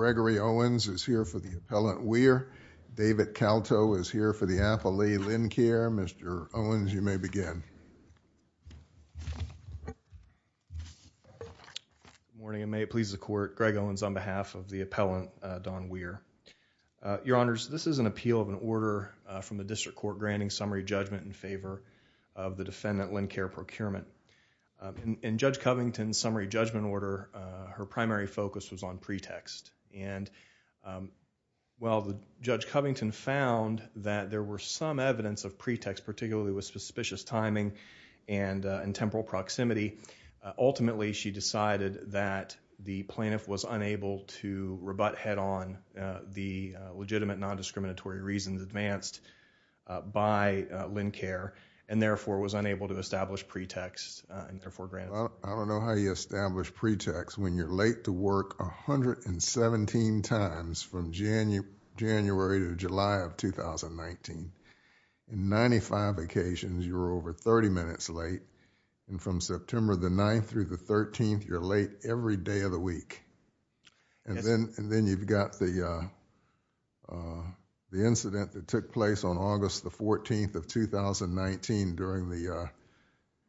Gregory Owens is here for the appellant Weiher, David Calto is here for the appellee Lincare. Mr. Owens, you may begin. Good morning, and may it please the Court, Greg Owens on behalf of the appellant Don Weiher. Your Honors, this is an appeal of an order from the District Court granting summary judgment in favor of the defendant Lincare Procurement. In Judge Covington's summary judgment order, her primary focus was on pretext. And while Judge Covington found that there were some evidence of pretext, particularly with suspicious timing and temporal proximity, ultimately she decided that the plaintiff was unable to rebut head-on the legitimate non-discriminatory reasons advanced by Lincare and therefore was unable to establish pretext and therefore granted. I don't know how you establish pretext when you're late to work 117 times from January to July of 2019. In 95 occasions, you were over 30 minutes late, and from September the 9th through the 13th, you're late every day of the week. And then you've got the incident that took place on August the 14th of 2019 during the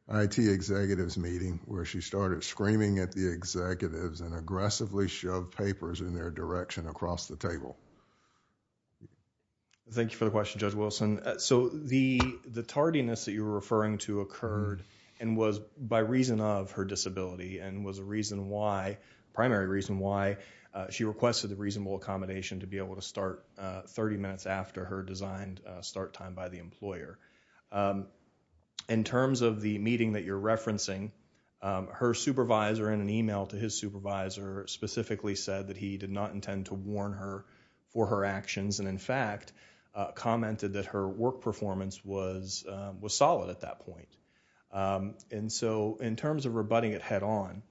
IT executives meeting where she started screaming at the executives and aggressively shoved papers in their direction across the table. Thank you for the question, Judge Wilson. The tardiness that you're referring to occurred and was by reason of her disability and was a reason why, primary reason why, she requested a reasonable accommodation to be able to start 30 minutes after her designed start time by the employer. In terms of the meeting that you're referencing, her supervisor in an email to his supervisor specifically said that he did not intend to warn her for her actions and in fact, commented that her work performance was solid at that point. And so, in terms of rebutting it head on,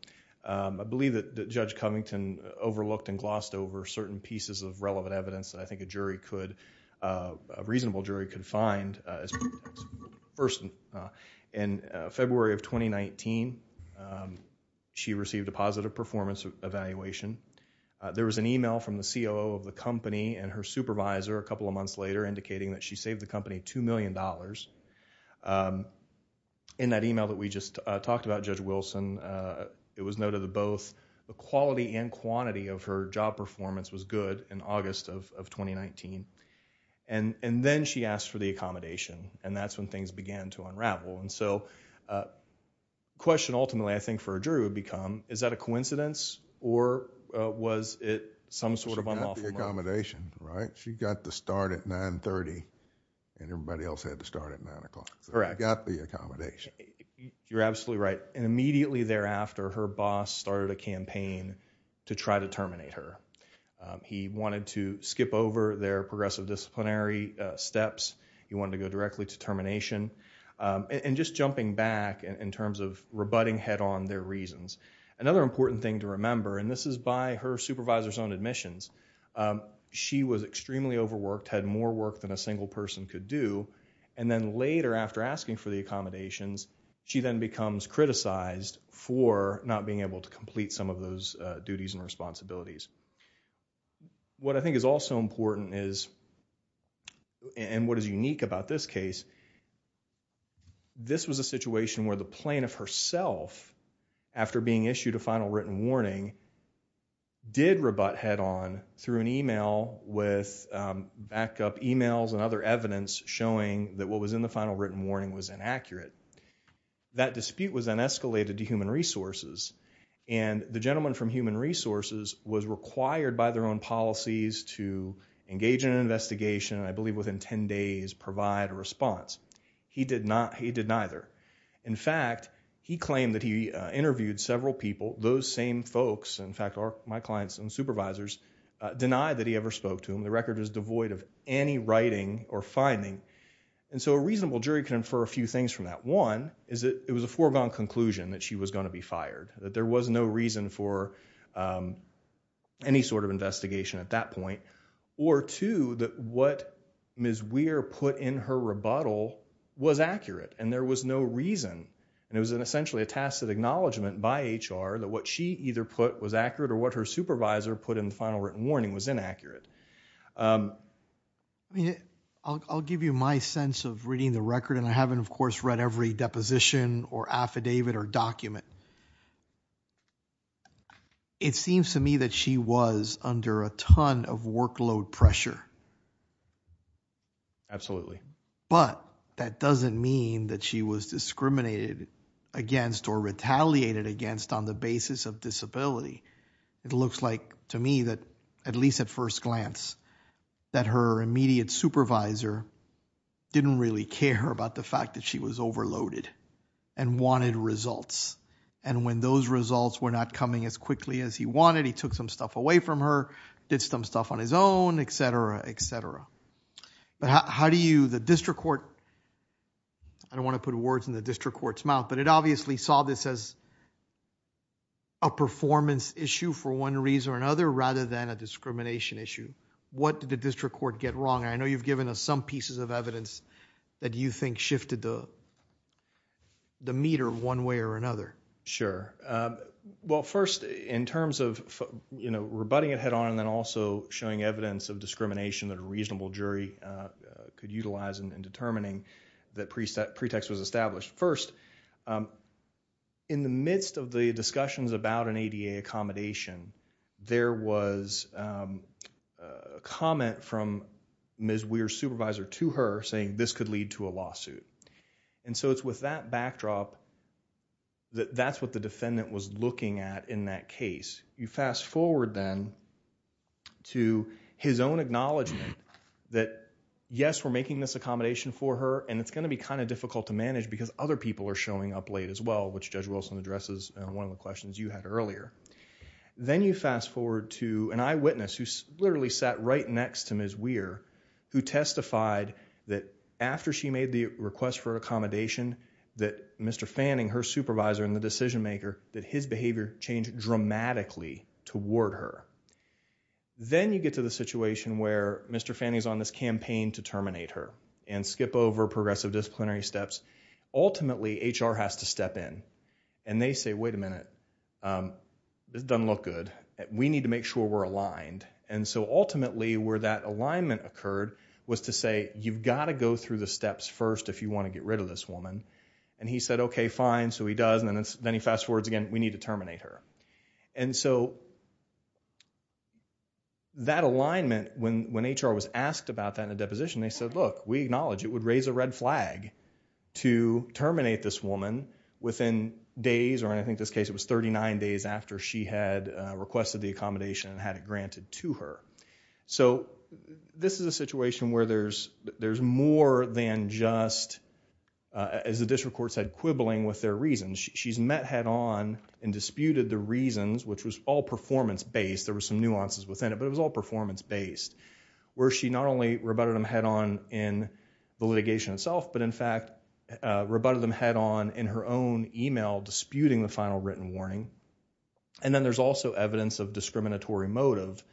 I believe that Judge Covington overlooked and glossed over certain pieces of relevant evidence that I think a jury could, a reasonable jury could find. First, in February of 2019, she received a positive performance evaluation. There was an email from the COO of the company and her supervisor a couple of months later indicating that she saved the company $2 million. In that email that we just talked about, Judge Wilson, it was noted that both the quality and quantity of her job performance was good in August of 2019. And then she asked for the accommodation and that's when things began to unravel. And so, the question ultimately, I think for a jury would become, is that a coincidence or was it some sort of unlawful motive? She got the accommodation, right? She got the start at 9.30 and everybody else had to start at 9 o'clock. Correct. She got the accommodation. You're absolutely right. And immediately thereafter, her boss started a campaign to try to terminate her. He wanted to skip over their progressive disciplinary steps. He wanted to go directly to termination and just jumping back in terms of rebutting head on their reasons. Another important thing to remember, and this is by her supervisor's own admissions, she was extremely overworked, had more work than a single person could do. And then later after asking for the accommodations, she then becomes criticized for not being able to complete some of those duties and responsibilities. What I think is also important is, and what is unique about this case, this was a situation where the plaintiff herself, after being issued a final written warning, did rebut head on through an email with backup emails and other evidence showing that what was in the final written warning was inaccurate. That dispute was then escalated to Human Resources, and the gentleman from Human Resources was required by their own policies to engage in an investigation and I believe within 10 days provide a response. He did not. He did neither. In fact, he claimed that he interviewed several people. Those same folks, in fact, are my clients and supervisors, denied that he ever spoke to him. The record is devoid of any writing or finding. And so a reasonable jury can infer a few things from that. One is that it was a foregone conclusion that she was going to be fired, that there was no reason for any sort of investigation at that point. Or two, that what Ms. Weir put in her rebuttal was accurate, and there was no reason, and it was essentially a tacit acknowledgment by HR that what she either put was accurate or what her supervisor put in the final written warning was inaccurate. I mean, I'll give you my sense of reading the record, and I haven't, of course, read every deposition or affidavit or document. It seems to me that she was under a ton of workload pressure. Absolutely. But that doesn't mean that she was discriminated against or retaliated against on the basis of disability. It looks like to me that, at least at first glance, that her immediate supervisor didn't really care about the fact that she was overloaded and wanted results. And when those results were not coming as quickly as he wanted, he took some stuff away from her, did some stuff on his own, et cetera, et cetera. But how do you, the district court, I don't want to put words in the district court's face, a performance issue for one reason or another rather than a discrimination issue. What did the district court get wrong? I know you've given us some pieces of evidence that you think shifted the meter one way or another. Sure. Well, first, in terms of, you know, rebutting it head on and then also showing evidence of discrimination that a reasonable jury could utilize in determining that pretext was established. First, in the midst of the discussions about an ADA accommodation, there was a comment from Ms. Weir's supervisor to her saying this could lead to a lawsuit. And so it's with that backdrop that that's what the defendant was looking at in that case. You fast forward then to his own acknowledgement that, yes, we're making this accommodation for her and it's going to be kind of difficult to manage because other people are showing up late as well, which Judge Wilson addresses in one of the questions you had earlier. Then you fast forward to an eyewitness who literally sat right next to Ms. Weir who testified that after she made the request for accommodation that Mr. Fanning, her supervisor and the decision maker, that his behavior changed dramatically toward her. Then you get to the situation where Mr. Fanning is on this campaign to terminate her. And skip over progressive disciplinary steps. Ultimately, HR has to step in and they say, wait a minute, this doesn't look good. We need to make sure we're aligned. And so ultimately where that alignment occurred was to say, you've got to go through the steps first if you want to get rid of this woman. And he said, okay, fine. So he does. And then he fast forwards again, we need to terminate her. And so that alignment, when HR was asked about that in a deposition, they said, look, we're it would raise a red flag to terminate this woman within days, or in I think this case it was 39 days after she had requested the accommodation and had it granted to her. So this is a situation where there's more than just, as the district court said, quibbling with their reasons. She's met head on and disputed the reasons, which was all performance based. There were some nuances within it, but it was all performance based. Where she not only rebutted them head on in the litigation itself, but in fact rebutted them head on in her own email disputing the final written warning. And then there's also evidence of discriminatory motive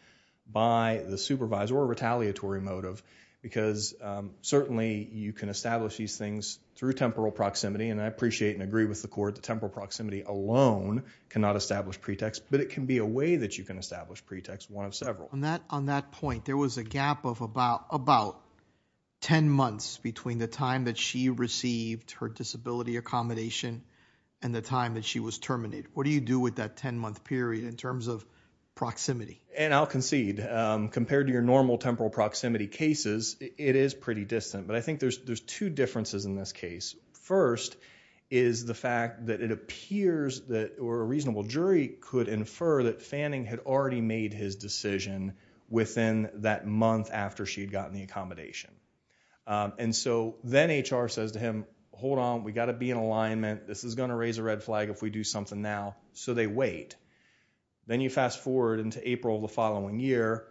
by the supervisor or retaliatory motive, because certainly you can establish these things through temporal proximity. And I appreciate and agree with the court that temporal proximity alone cannot establish pretext, but it can be a way that you can establish pretext, one of several. On that point, there was a gap of about 10 months between the time that she received her disability accommodation and the time that she was terminated. What do you do with that 10 month period in terms of proximity? And I'll concede, compared to your normal temporal proximity cases, it is pretty distant. But I think there's two differences in this case. First is the fact that it appears that a reasonable jury could infer that Fanning had already made his decision within that month after she had gotten the accommodation. And so then HR says to him, hold on, we got to be in alignment. This is going to raise a red flag if we do something now. So they wait. Then you fast forward into April of the following year.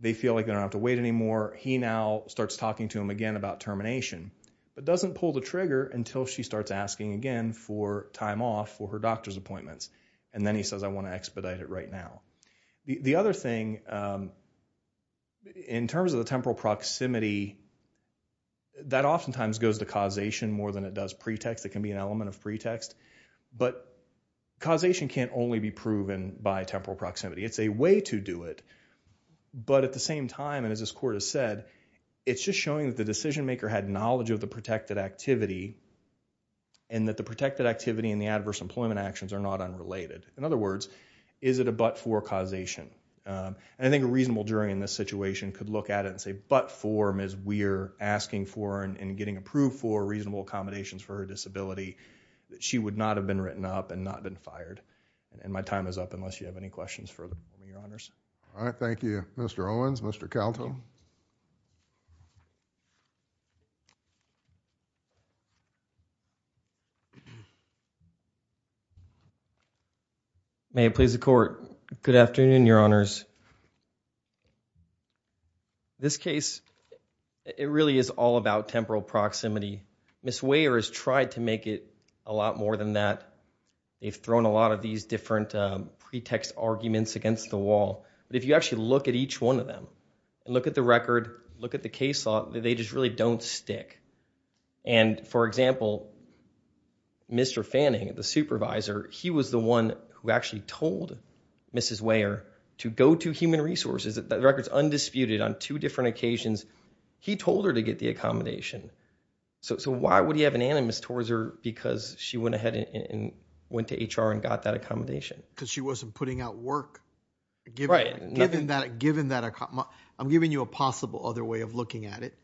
They feel like they don't have to wait anymore. He now starts talking to him again about termination, but doesn't pull the trigger until she starts asking again for time off for her doctor's appointments. And then he says, I want to expedite it right now. The other thing in terms of the temporal proximity, that oftentimes goes to causation more than it does pretext. It can be an element of pretext. But causation can't only be proven by temporal proximity. It's a way to do it. But at the same time, and as this court has said, it's just showing that the decision maker had knowledge of the protected activity and that the protected activity and the adverse employment actions are not unrelated. In other words, is it a but-for causation? And I think a reasonable jury in this situation could look at it and say, but-for Ms. Weir asking for and getting approved for reasonable accommodations for her disability, that she would not have been written up and not been fired. And my time is up, unless you have any questions for me, Your Honors. All right. Thank you, Mr. Owens. Mr. Kalto. May it please the Court, good afternoon, Your Honors. This case, it really is all about temporal proximity. Ms. Weir has tried to make it a lot more than that. They've thrown a lot of these different pretext arguments against the wall. But if you actually look at each one of them and look at the record, look at the case law, they just really don't stick. And for example, Mr. Fanning, the supervisor, he was the one who actually told Ms. Weir to go to Human Resources. That record is undisputed on two different occasions. He told her to get the accommodation. So why would he have an animus towards her because she went ahead and went to HR and got that accommodation? Because she wasn't putting out work. Right. Given that, I'm giving you a possible other way of looking at it,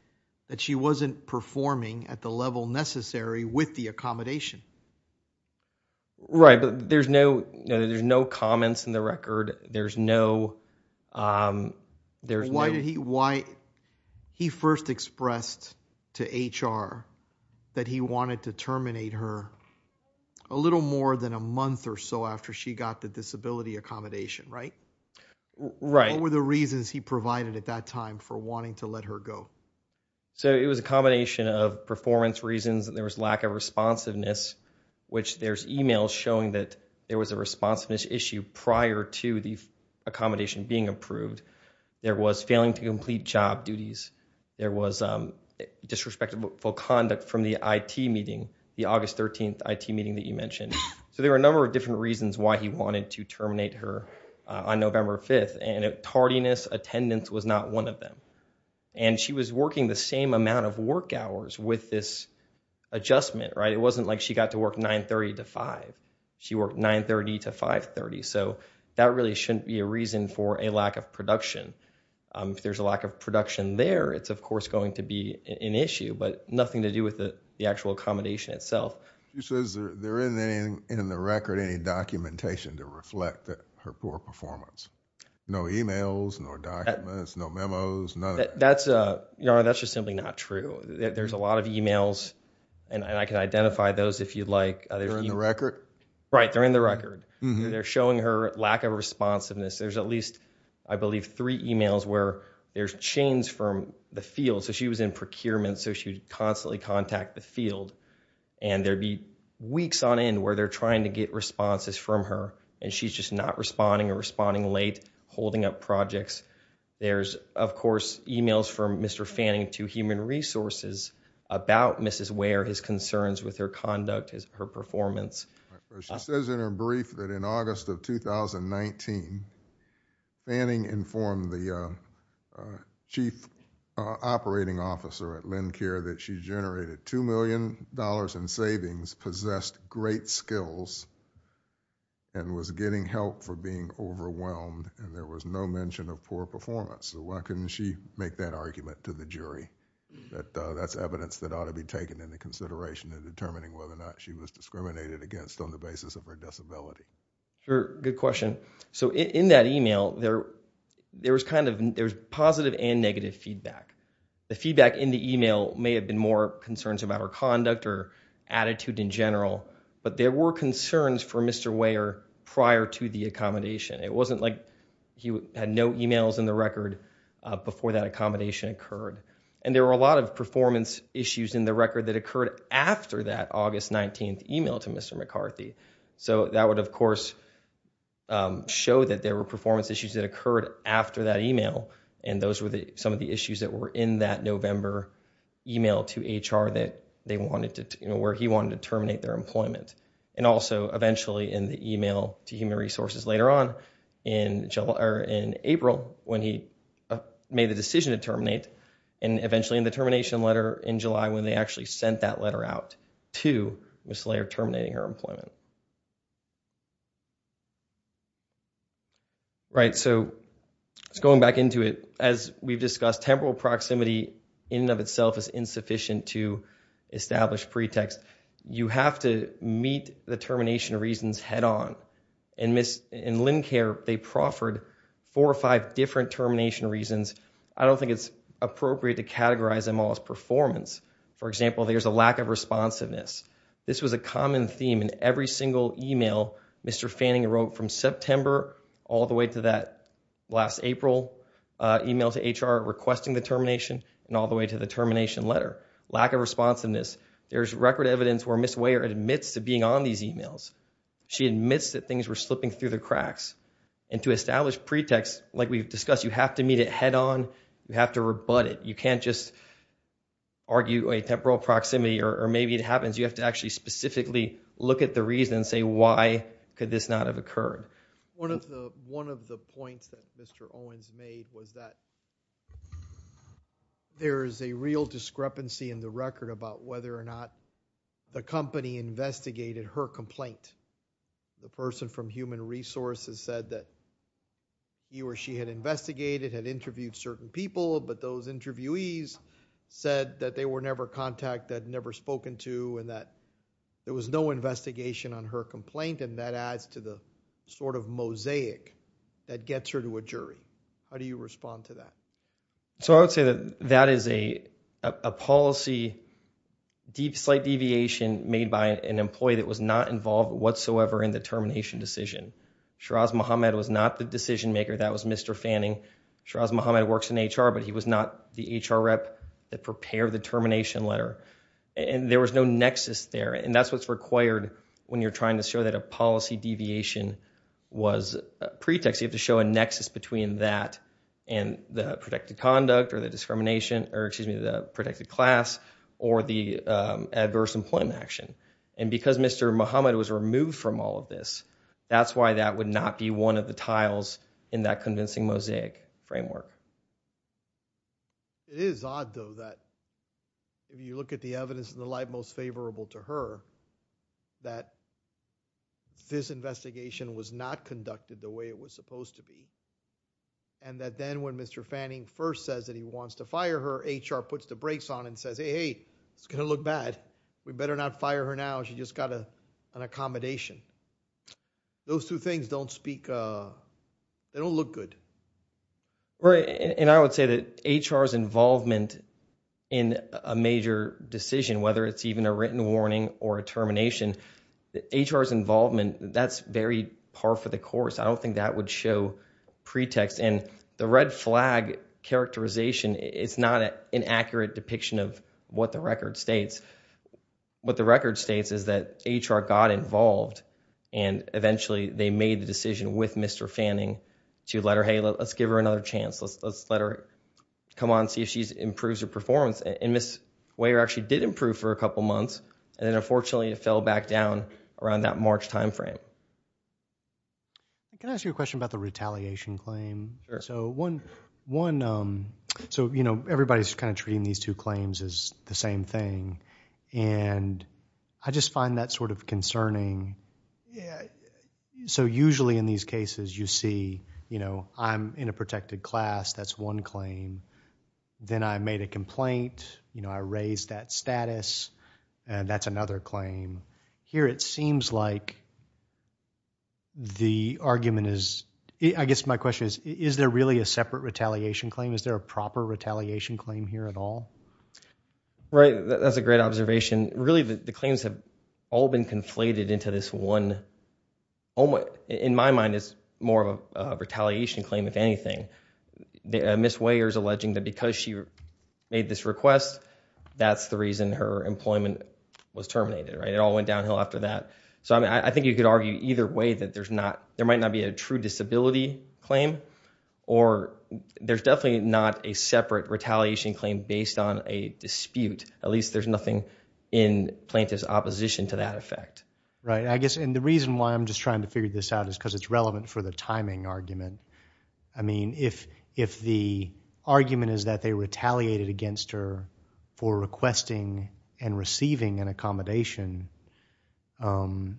that she wasn't performing at the level necessary with the accommodation. Right. But there's no, there's no comments in the record. There's no, there's no. Why did he, why he first expressed to HR that he wanted to terminate her a little more than a month or so after she got the disability accommodation, right? Right. What were the reasons he provided at that time for wanting to let her go? So it was a combination of performance reasons and there was lack of responsiveness, which there's emails showing that there was a responsiveness issue prior to the accommodation being approved. There was failing to complete job duties. There was disrespectful conduct from the IT meeting, the August 13th IT meeting that you mentioned. So there were a number of different reasons why he wanted to terminate her on November 5th and tardiness attendance was not one of them. And she was working the same amount of work hours with this adjustment, right? It wasn't like she got to work 9.30 to 5. She worked 9.30 to 5.30. So that really shouldn't be a reason for a lack of production. If there's a lack of production there, it's of course going to be an issue, but nothing to do with the actual accommodation itself. She says there isn't in the record any documentation to reflect her poor performance. No emails, no documents, no memos, none of that. That's just simply not true. There's a lot of emails and I can identify those if you'd like. They're in the record? Right. They're in the record. They're showing her lack of responsiveness. There's at least, I believe, three emails where there's chains from the field. So she was in procurement, so she would constantly contact the field. And there'd be weeks on end where they're trying to get responses from her and she's just not responding or responding late, holding up projects. There's of course emails from Mr. Fanning to Human Resources about Mrs. Ware, his concerns with her conduct, her performance. She says in her brief that in August of 2019, Fanning informed the Chief Operating Officer at LendCare that she generated $2 million in savings, possessed great skills, and was getting help for being overwhelmed and there was no mention of poor performance. Why couldn't she make that argument to the jury? That's evidence that ought to be taken into consideration in determining whether or not she was discriminated against on the basis of her disability. Sure. Good question. So in that email, there was positive and negative feedback. The feedback in the email may have been more concerns about her conduct or attitude in general, but there were concerns for Mr. Ware prior to the accommodation. It wasn't like he had no emails in the record before that accommodation occurred. And there were a lot of performance issues in the record that occurred after that August 19th email to Mr. McCarthy. So that would of course show that there were performance issues that occurred after that email and those were some of the issues that were in that November email to HR where he wanted to terminate their employment. And also eventually in the email to Human Resources later on in April when he made the decision to terminate and eventually in the termination letter in July when they actually sent that letter out to Ms. Laird terminating her employment. Right, so just going back into it, as we've discussed, temporal proximity in and of itself is insufficient to establish pretext. You have to meet the termination reasons head-on. In Lynncare, they proffered four or five different termination reasons. I don't think it's appropriate to categorize them all as performance. For example, there's a lack of responsiveness. This was a common theme in every single email Mr. Fanning wrote from September all the way to that last April email to HR requesting the termination and all the way to the termination letter. Lack of responsiveness. There's record evidence where Ms. Ware admits to being on these emails. She admits that things were slipping through the cracks. To establish pretext, like we've discussed, you have to meet it head-on. You have to rebut it. You can't just argue a temporal proximity or maybe it happens you have to actually specifically look at the reason and say why could this not have occurred. One of the points that Mr. Owens made was that there is a real discrepancy in the record about whether or not the company investigated her complaint. The person from Human Resources said that he or she had investigated, had interviewed certain people, but those interviewees said that they were never contacted, never spoken to and that there was no investigation on her complaint and that adds to the sort of mosaic that gets her to a jury. How do you respond to that? I would say that that is a policy slight deviation made by an employee that was not involved whatsoever in the termination decision. Shiraz Mohammed was not the decision maker. That was Mr. Fanning. Shiraz Mohammed works in HR, but he was not the HR rep that prepared the termination letter. There was no nexus there and that's what's required when you're trying to show that a policy deviation was a pretext. You have to show a nexus between that and the protected conduct or the discrimination or excuse me, the protected class or the adverse employment action and because Mr. Mohammed was removed from all of this, that's why that would not be one of the tiles in that convincing mosaic framework. It is odd though that if you look at the evidence in the light most favorable to her, that this is what it's supposed to be and that then when Mr. Fanning first says that he wants to fire her, HR puts the brakes on and says, hey, hey, it's going to look bad. We better not fire her now, she just got an accommodation. Those two things don't speak, they don't look good. And I would say that HR's involvement in a major decision, whether it's even a written warning or a termination, HR's involvement, that's very par for the course. I don't think that would show pretext and the red flag characterization is not an accurate depiction of what the record states. What the record states is that HR got involved and eventually they made the decision with Mr. Fanning to let her, hey, let's give her another chance, let's let her come on and see if she improves her performance and Ms. Weyer actually did improve for a couple months and then unfortunately it fell back down around that March time frame. Can I ask you a question about the retaliation claim? Sure. So one, so you know, everybody's kind of treating these two claims as the same thing and I just find that sort of concerning. So usually in these cases you see, you know, I'm in a protected class, that's one claim, then I made a complaint, you know, I raised that status and that's another claim. Here it seems like the argument is, I guess my question is, is there really a separate retaliation claim? Is there a proper retaliation claim here at all? Right, that's a great observation. Really the claims have all been conflated into this one, in my mind it's more of a retaliation claim if anything. Ms. Weyer is alleging that because she made this request, that's the reason her employment was terminated, right? It all went downhill after that. So I think you could argue either way that there's not, there might not be a true disability claim or there's definitely not a separate retaliation claim based on a dispute. At least there's nothing in plaintiff's opposition to that effect. Right, I guess and the reason why I'm just trying to figure this out is because it's I mean, if the argument is that they retaliated against her for requesting and receiving an accommodation, then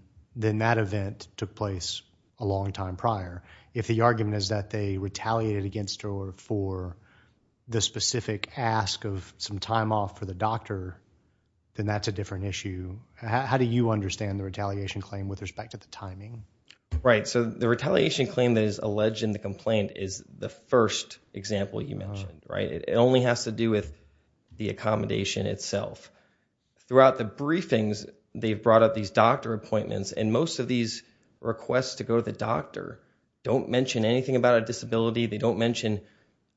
that event took place a long time prior. If the argument is that they retaliated against her for the specific ask of some time off for the doctor, then that's a different issue. How do you understand the retaliation claim with respect to the timing? Right, so the retaliation claim that is alleged in the complaint is the first example you mentioned, right? It only has to do with the accommodation itself. Throughout the briefings, they've brought up these doctor appointments and most of these requests to go to the doctor don't mention anything about a disability. They don't mention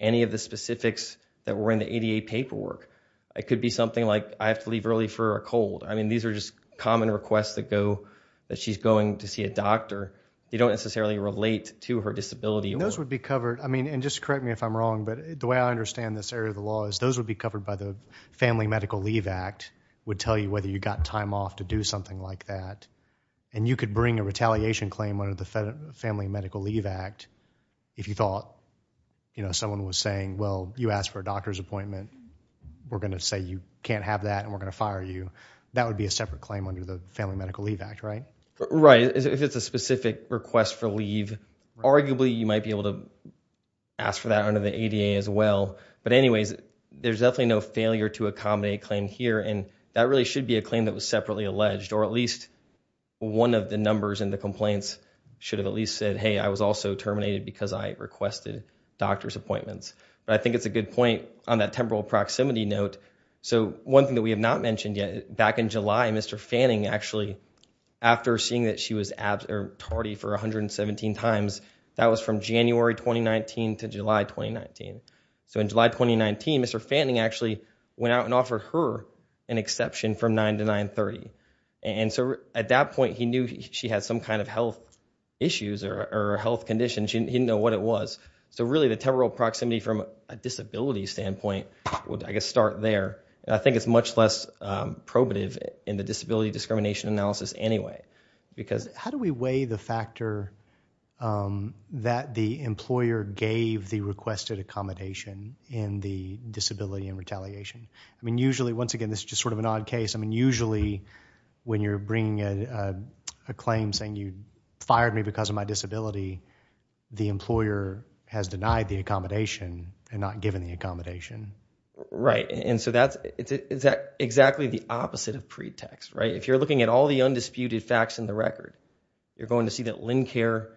any of the specifics that were in the ADA paperwork. It could be something like, I have to leave early for a cold. I mean, these are just common requests that go that she's going to see a doctor. They don't necessarily relate to her disability. Those would be covered, I mean, and just correct me if I'm wrong, but the way I understand this area of the law is those would be covered by the Family Medical Leave Act would tell you whether you got time off to do something like that. And you could bring a retaliation claim under the Family Medical Leave Act if you thought, you know, someone was saying, well, you asked for a doctor's appointment. We're going to say you can't have that and we're going to fire you. That would be a separate claim under the Family Medical Leave Act, right? Right. If it's a specific request for leave, arguably you might be able to ask for that under the ADA as well. But anyways, there's definitely no failure to accommodate claim here and that really should be a claim that was separately alleged or at least one of the numbers in the complaints should have at least said, hey, I was also terminated because I requested doctor's appointments. But I think it's a good point on that temporal proximity note. So one thing that we have not mentioned yet, back in July, Mr. Fanning actually, after seeing that she was tardy for 117 times, that was from January 2019 to July 2019. So in July 2019, Mr. Fanning actually went out and offered her an exception from 9 to 930. And so at that point, he knew she had some kind of health issues or health conditions. He didn't know what it was. So really, the temporal proximity from a disability standpoint would, I guess, start there. I think it's much less probative in the disability discrimination analysis anyway. Because how do we weigh the factor that the employer gave the requested accommodation in the disability and retaliation? I mean, usually, once again, this is just sort of an odd case. I mean, usually when you're bringing a claim saying you fired me because of my disability, the employer has denied the accommodation and not given the accommodation. Right. And so that's exactly the opposite of pretext, right? If you're looking at all the undisputed facts in the record, you're going to see that Lincare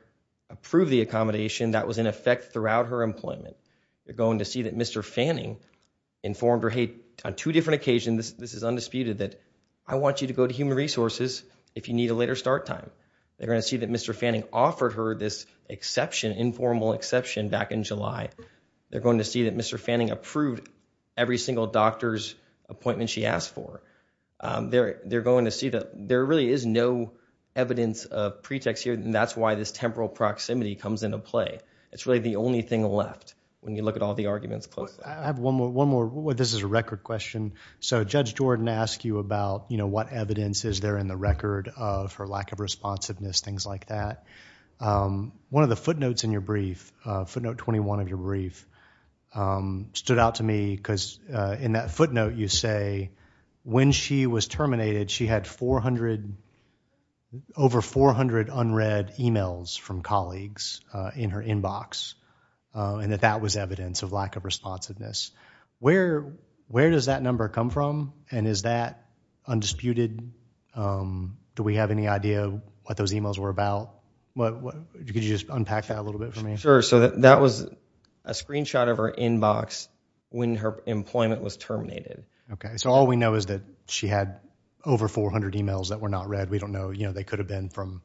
approved the accommodation. That was in effect throughout her employment. You're going to see that Mr. Fanning informed her, hey, on two different occasions, this is undisputed, that I want you to go to Human Resources if you need a later start time. They're going to see that Mr. Fanning offered her this exception, informal exception back in July. They're going to see that Mr. Fanning approved every single doctor's appointment she asked for. They're going to see that there really is no evidence of pretext here, and that's why this temporal proximity comes into play. It's really the only thing left when you look at all the arguments closely. I have one more. One more. This is a record question. So Judge Jordan asked you about, you know, what evidence is there in the record of her lack of responsiveness, things like that. One of the footnotes in your brief, footnote 21 of your brief, stood out to me, because in that footnote you say when she was terminated, she had over 400 unread emails from colleagues in her inbox, and that that was evidence of lack of responsiveness. Where does that number come from, and is that undisputed? Do we have any idea what those emails were about? Could you just unpack that a little bit for me? Sure. So that was a screenshot of her inbox when her employment was terminated. Okay. So all we know is that she had over 400 emails that were not read. We don't know, you know, they could have been from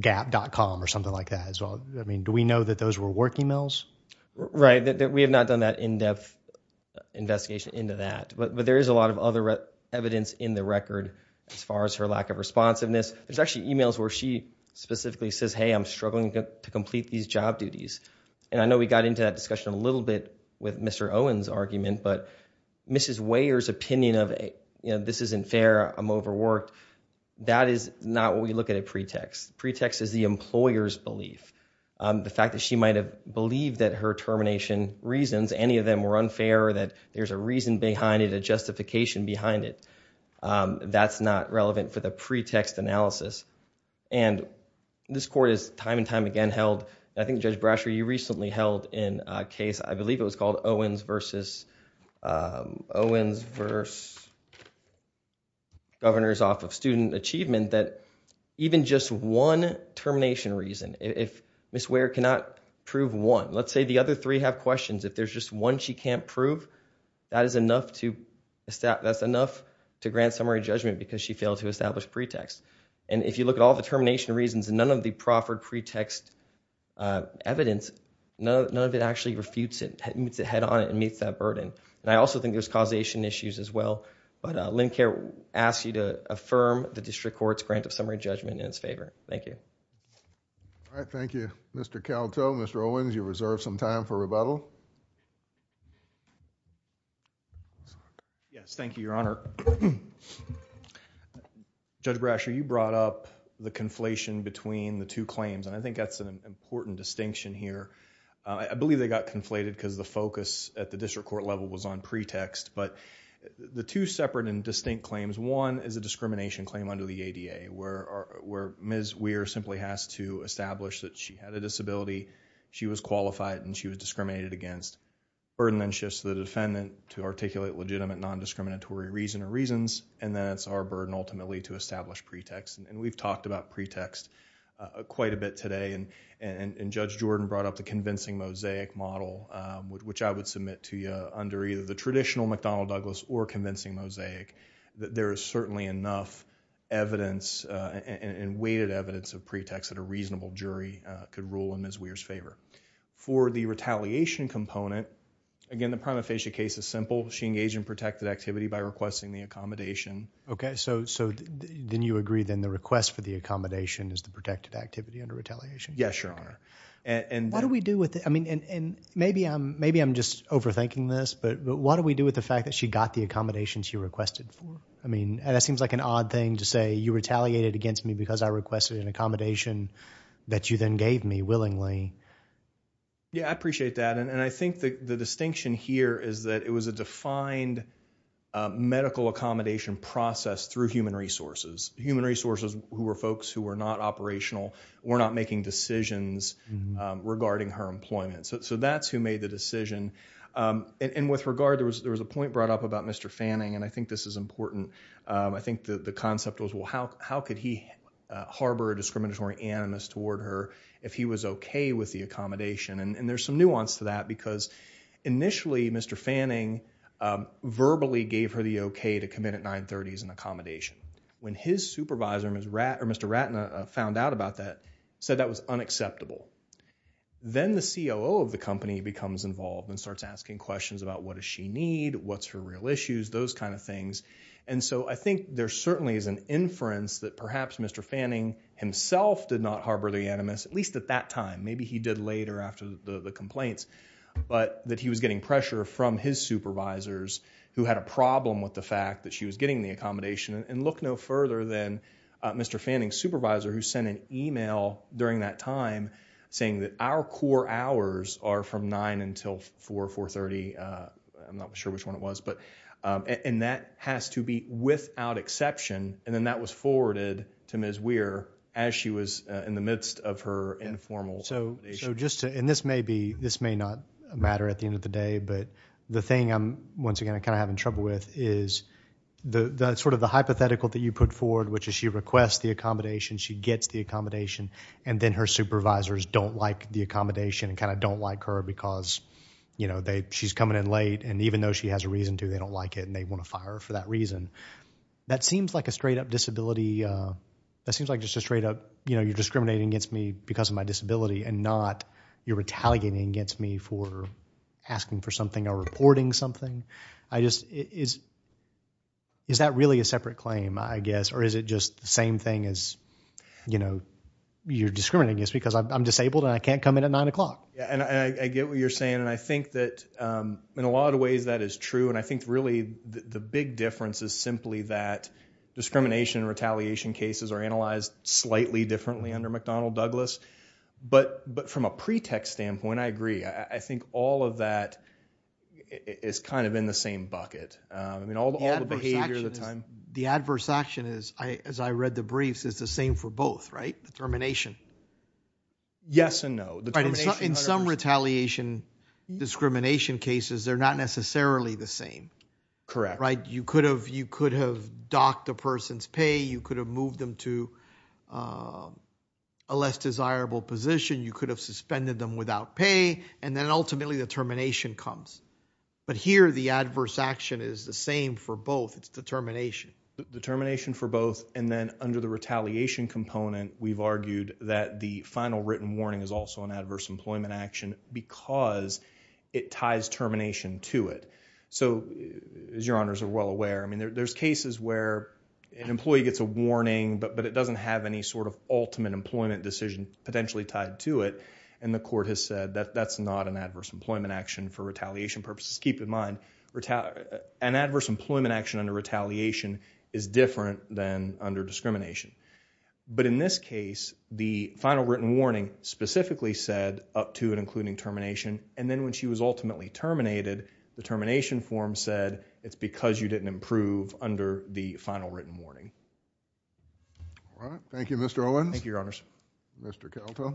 gap.com or something like that as well. I mean, do we know that those were work emails? Right. We have not done that in-depth investigation into that, but there is a lot of other evidence in the record as far as her lack of responsiveness. There's actually emails where she specifically says, hey, I'm struggling to complete these job duties. And I know we got into that discussion a little bit with Mr. Owen's argument, but Mrs. Weyer's opinion of, you know, this isn't fair, I'm overworked, that is not what we look at as a pretext. The pretext is the employer's belief, the fact that she might have believed that her termination reasons, any of them were unfair, that there's a reason behind it, a justification behind it. That's not relevant for the pretext analysis. And this court has time and time again held, and I think Judge Brasher, you recently held in a case, I believe it was called Owens versus Governors off of Student Achievement, that even just one termination reason, if Mrs. Weyer cannot prove one, let's say the other three have questions, if there's just one she can't prove, that's enough to grant summary judgment because she failed to establish pretext. And if you look at all the termination reasons, none of the proffered pretext evidence, none of it actually refutes it, meets it head on and meets that burden. And I also think there's causation issues as well, but Lynn Kerr asks you to affirm the district court's grant of summary judgment in its favor. Thank you. All right, thank you. Mr. Kelto, Mr. Owens, you reserve some time for rebuttal. Yes, thank you, Your Honor. Judge Brasher, you brought up the conflation between the two claims, and I think that's an important distinction here. I believe they got conflated because the focus at the district court level was on pretext, but the two separate and distinct claims, one is a discrimination claim under the ADA where Ms. Weir simply has to establish that she had a disability, she was qualified and she was discriminated against. Burden then shifts to the defendant to articulate legitimate non-discriminatory reason or reasons, and then it's our burden ultimately to establish pretext. And we've talked about pretext quite a bit today, and Judge Jordan brought up the convincing mosaic model, which I would submit to you under either the traditional McDonnell-Douglas or convincing mosaic, that there is certainly enough evidence and weighted evidence of pretext that a reasonable jury could rule in Ms. Weir's favor. For the retaliation component, again, the prima facie case is simple. She engaged in protected activity by requesting the accommodation. Okay, so then you agree then the request for the accommodation is the protected activity under retaliation? Yes, Your Honor. What do we do with it? I mean, and maybe I'm just overthinking this, but what do we do with the fact that she got the accommodations you requested for? I mean, that seems like an odd thing to say, you retaliated against me because I requested an accommodation that you then gave me willingly. Yeah, I appreciate that, and I think the distinction here is that it was a defined medical accommodation process through human resources. Human resources who were folks who were not operational, were not making decisions regarding her employment. So that's who made the decision, and with regard, there was a point brought up about Mr. Fanning, and I think this is important. I think the concept was, well, how could he harbor a discriminatory animus toward her if he was okay with the accommodation? And there's some nuance to that because initially, Mr. Fanning verbally gave her the okay to commit at 930 as an accommodation. When his supervisor, Mr. Ratner, found out about that, said that was unacceptable. Then the COO of the company becomes involved and starts asking questions about what does she need, what's her real issues, those kind of things. And so I think there certainly is an inference that perhaps Mr. Fanning himself did not harbor the animus, at least at that time. Maybe he did later after the complaints, but that he was getting pressure from his supervisors who had a problem with the fact that she was getting the accommodation. And look no further than Mr. Fanning's supervisor who sent an email during that time saying that our core hours are from 9 until 4, 430. I'm not sure which one it was, but, and that has to be without exception, and then that was forwarded to Ms. Weir as she was in the midst of her informal accommodation. And this may not matter at the end of the day, but the thing I'm, once again, kind of having trouble with is the sort of the hypothetical that you put forward, which is she requests the accommodation, she gets the accommodation, and then her supervisors don't like the accommodation and kind of don't like her because, you know, she's coming in late and even though she has a reason to, they don't like it and they want to fire her for that reason. That seems like a straight up disability, that seems like just a straight up, you know, you're retaliating against me for asking for something or reporting something. I just, is that really a separate claim, I guess, or is it just the same thing as, you know, you're discriminating against me because I'm disabled and I can't come in at 9 o'clock? Yeah, and I get what you're saying and I think that in a lot of ways that is true and I think really the big difference is simply that discrimination and retaliation cases are analyzed slightly differently under McDonnell-Douglas. But from a pretext standpoint, I agree. I think all of that is kind of in the same bucket. I mean, all the behavior of the time. The adverse action is, as I read the briefs, is the same for both, right? The termination. Yes and no. In some retaliation discrimination cases, they're not necessarily the same. Correct. Right? You could have docked a person's pay, you could have moved them to a less desirable position, you could have suspended them without pay, and then ultimately the termination comes. But here, the adverse action is the same for both. It's determination. Determination for both and then under the retaliation component, we've argued that the final written warning is also an adverse employment action because it ties termination to it. So, as your honors are well aware, I mean, there's cases where an employee gets a warning but it doesn't have any sort of ultimate employment decision potentially tied to it and the court has said that that's not an adverse employment action for retaliation purposes. Keep in mind, an adverse employment action under retaliation is different than under discrimination. But in this case, the final written warning specifically said up to and including termination and then when she was ultimately terminated, the termination form said it's because you didn't improve under the final written warning. All right. Thank you, Mr. Owens. Thank you, your honors. Mr. Kelto.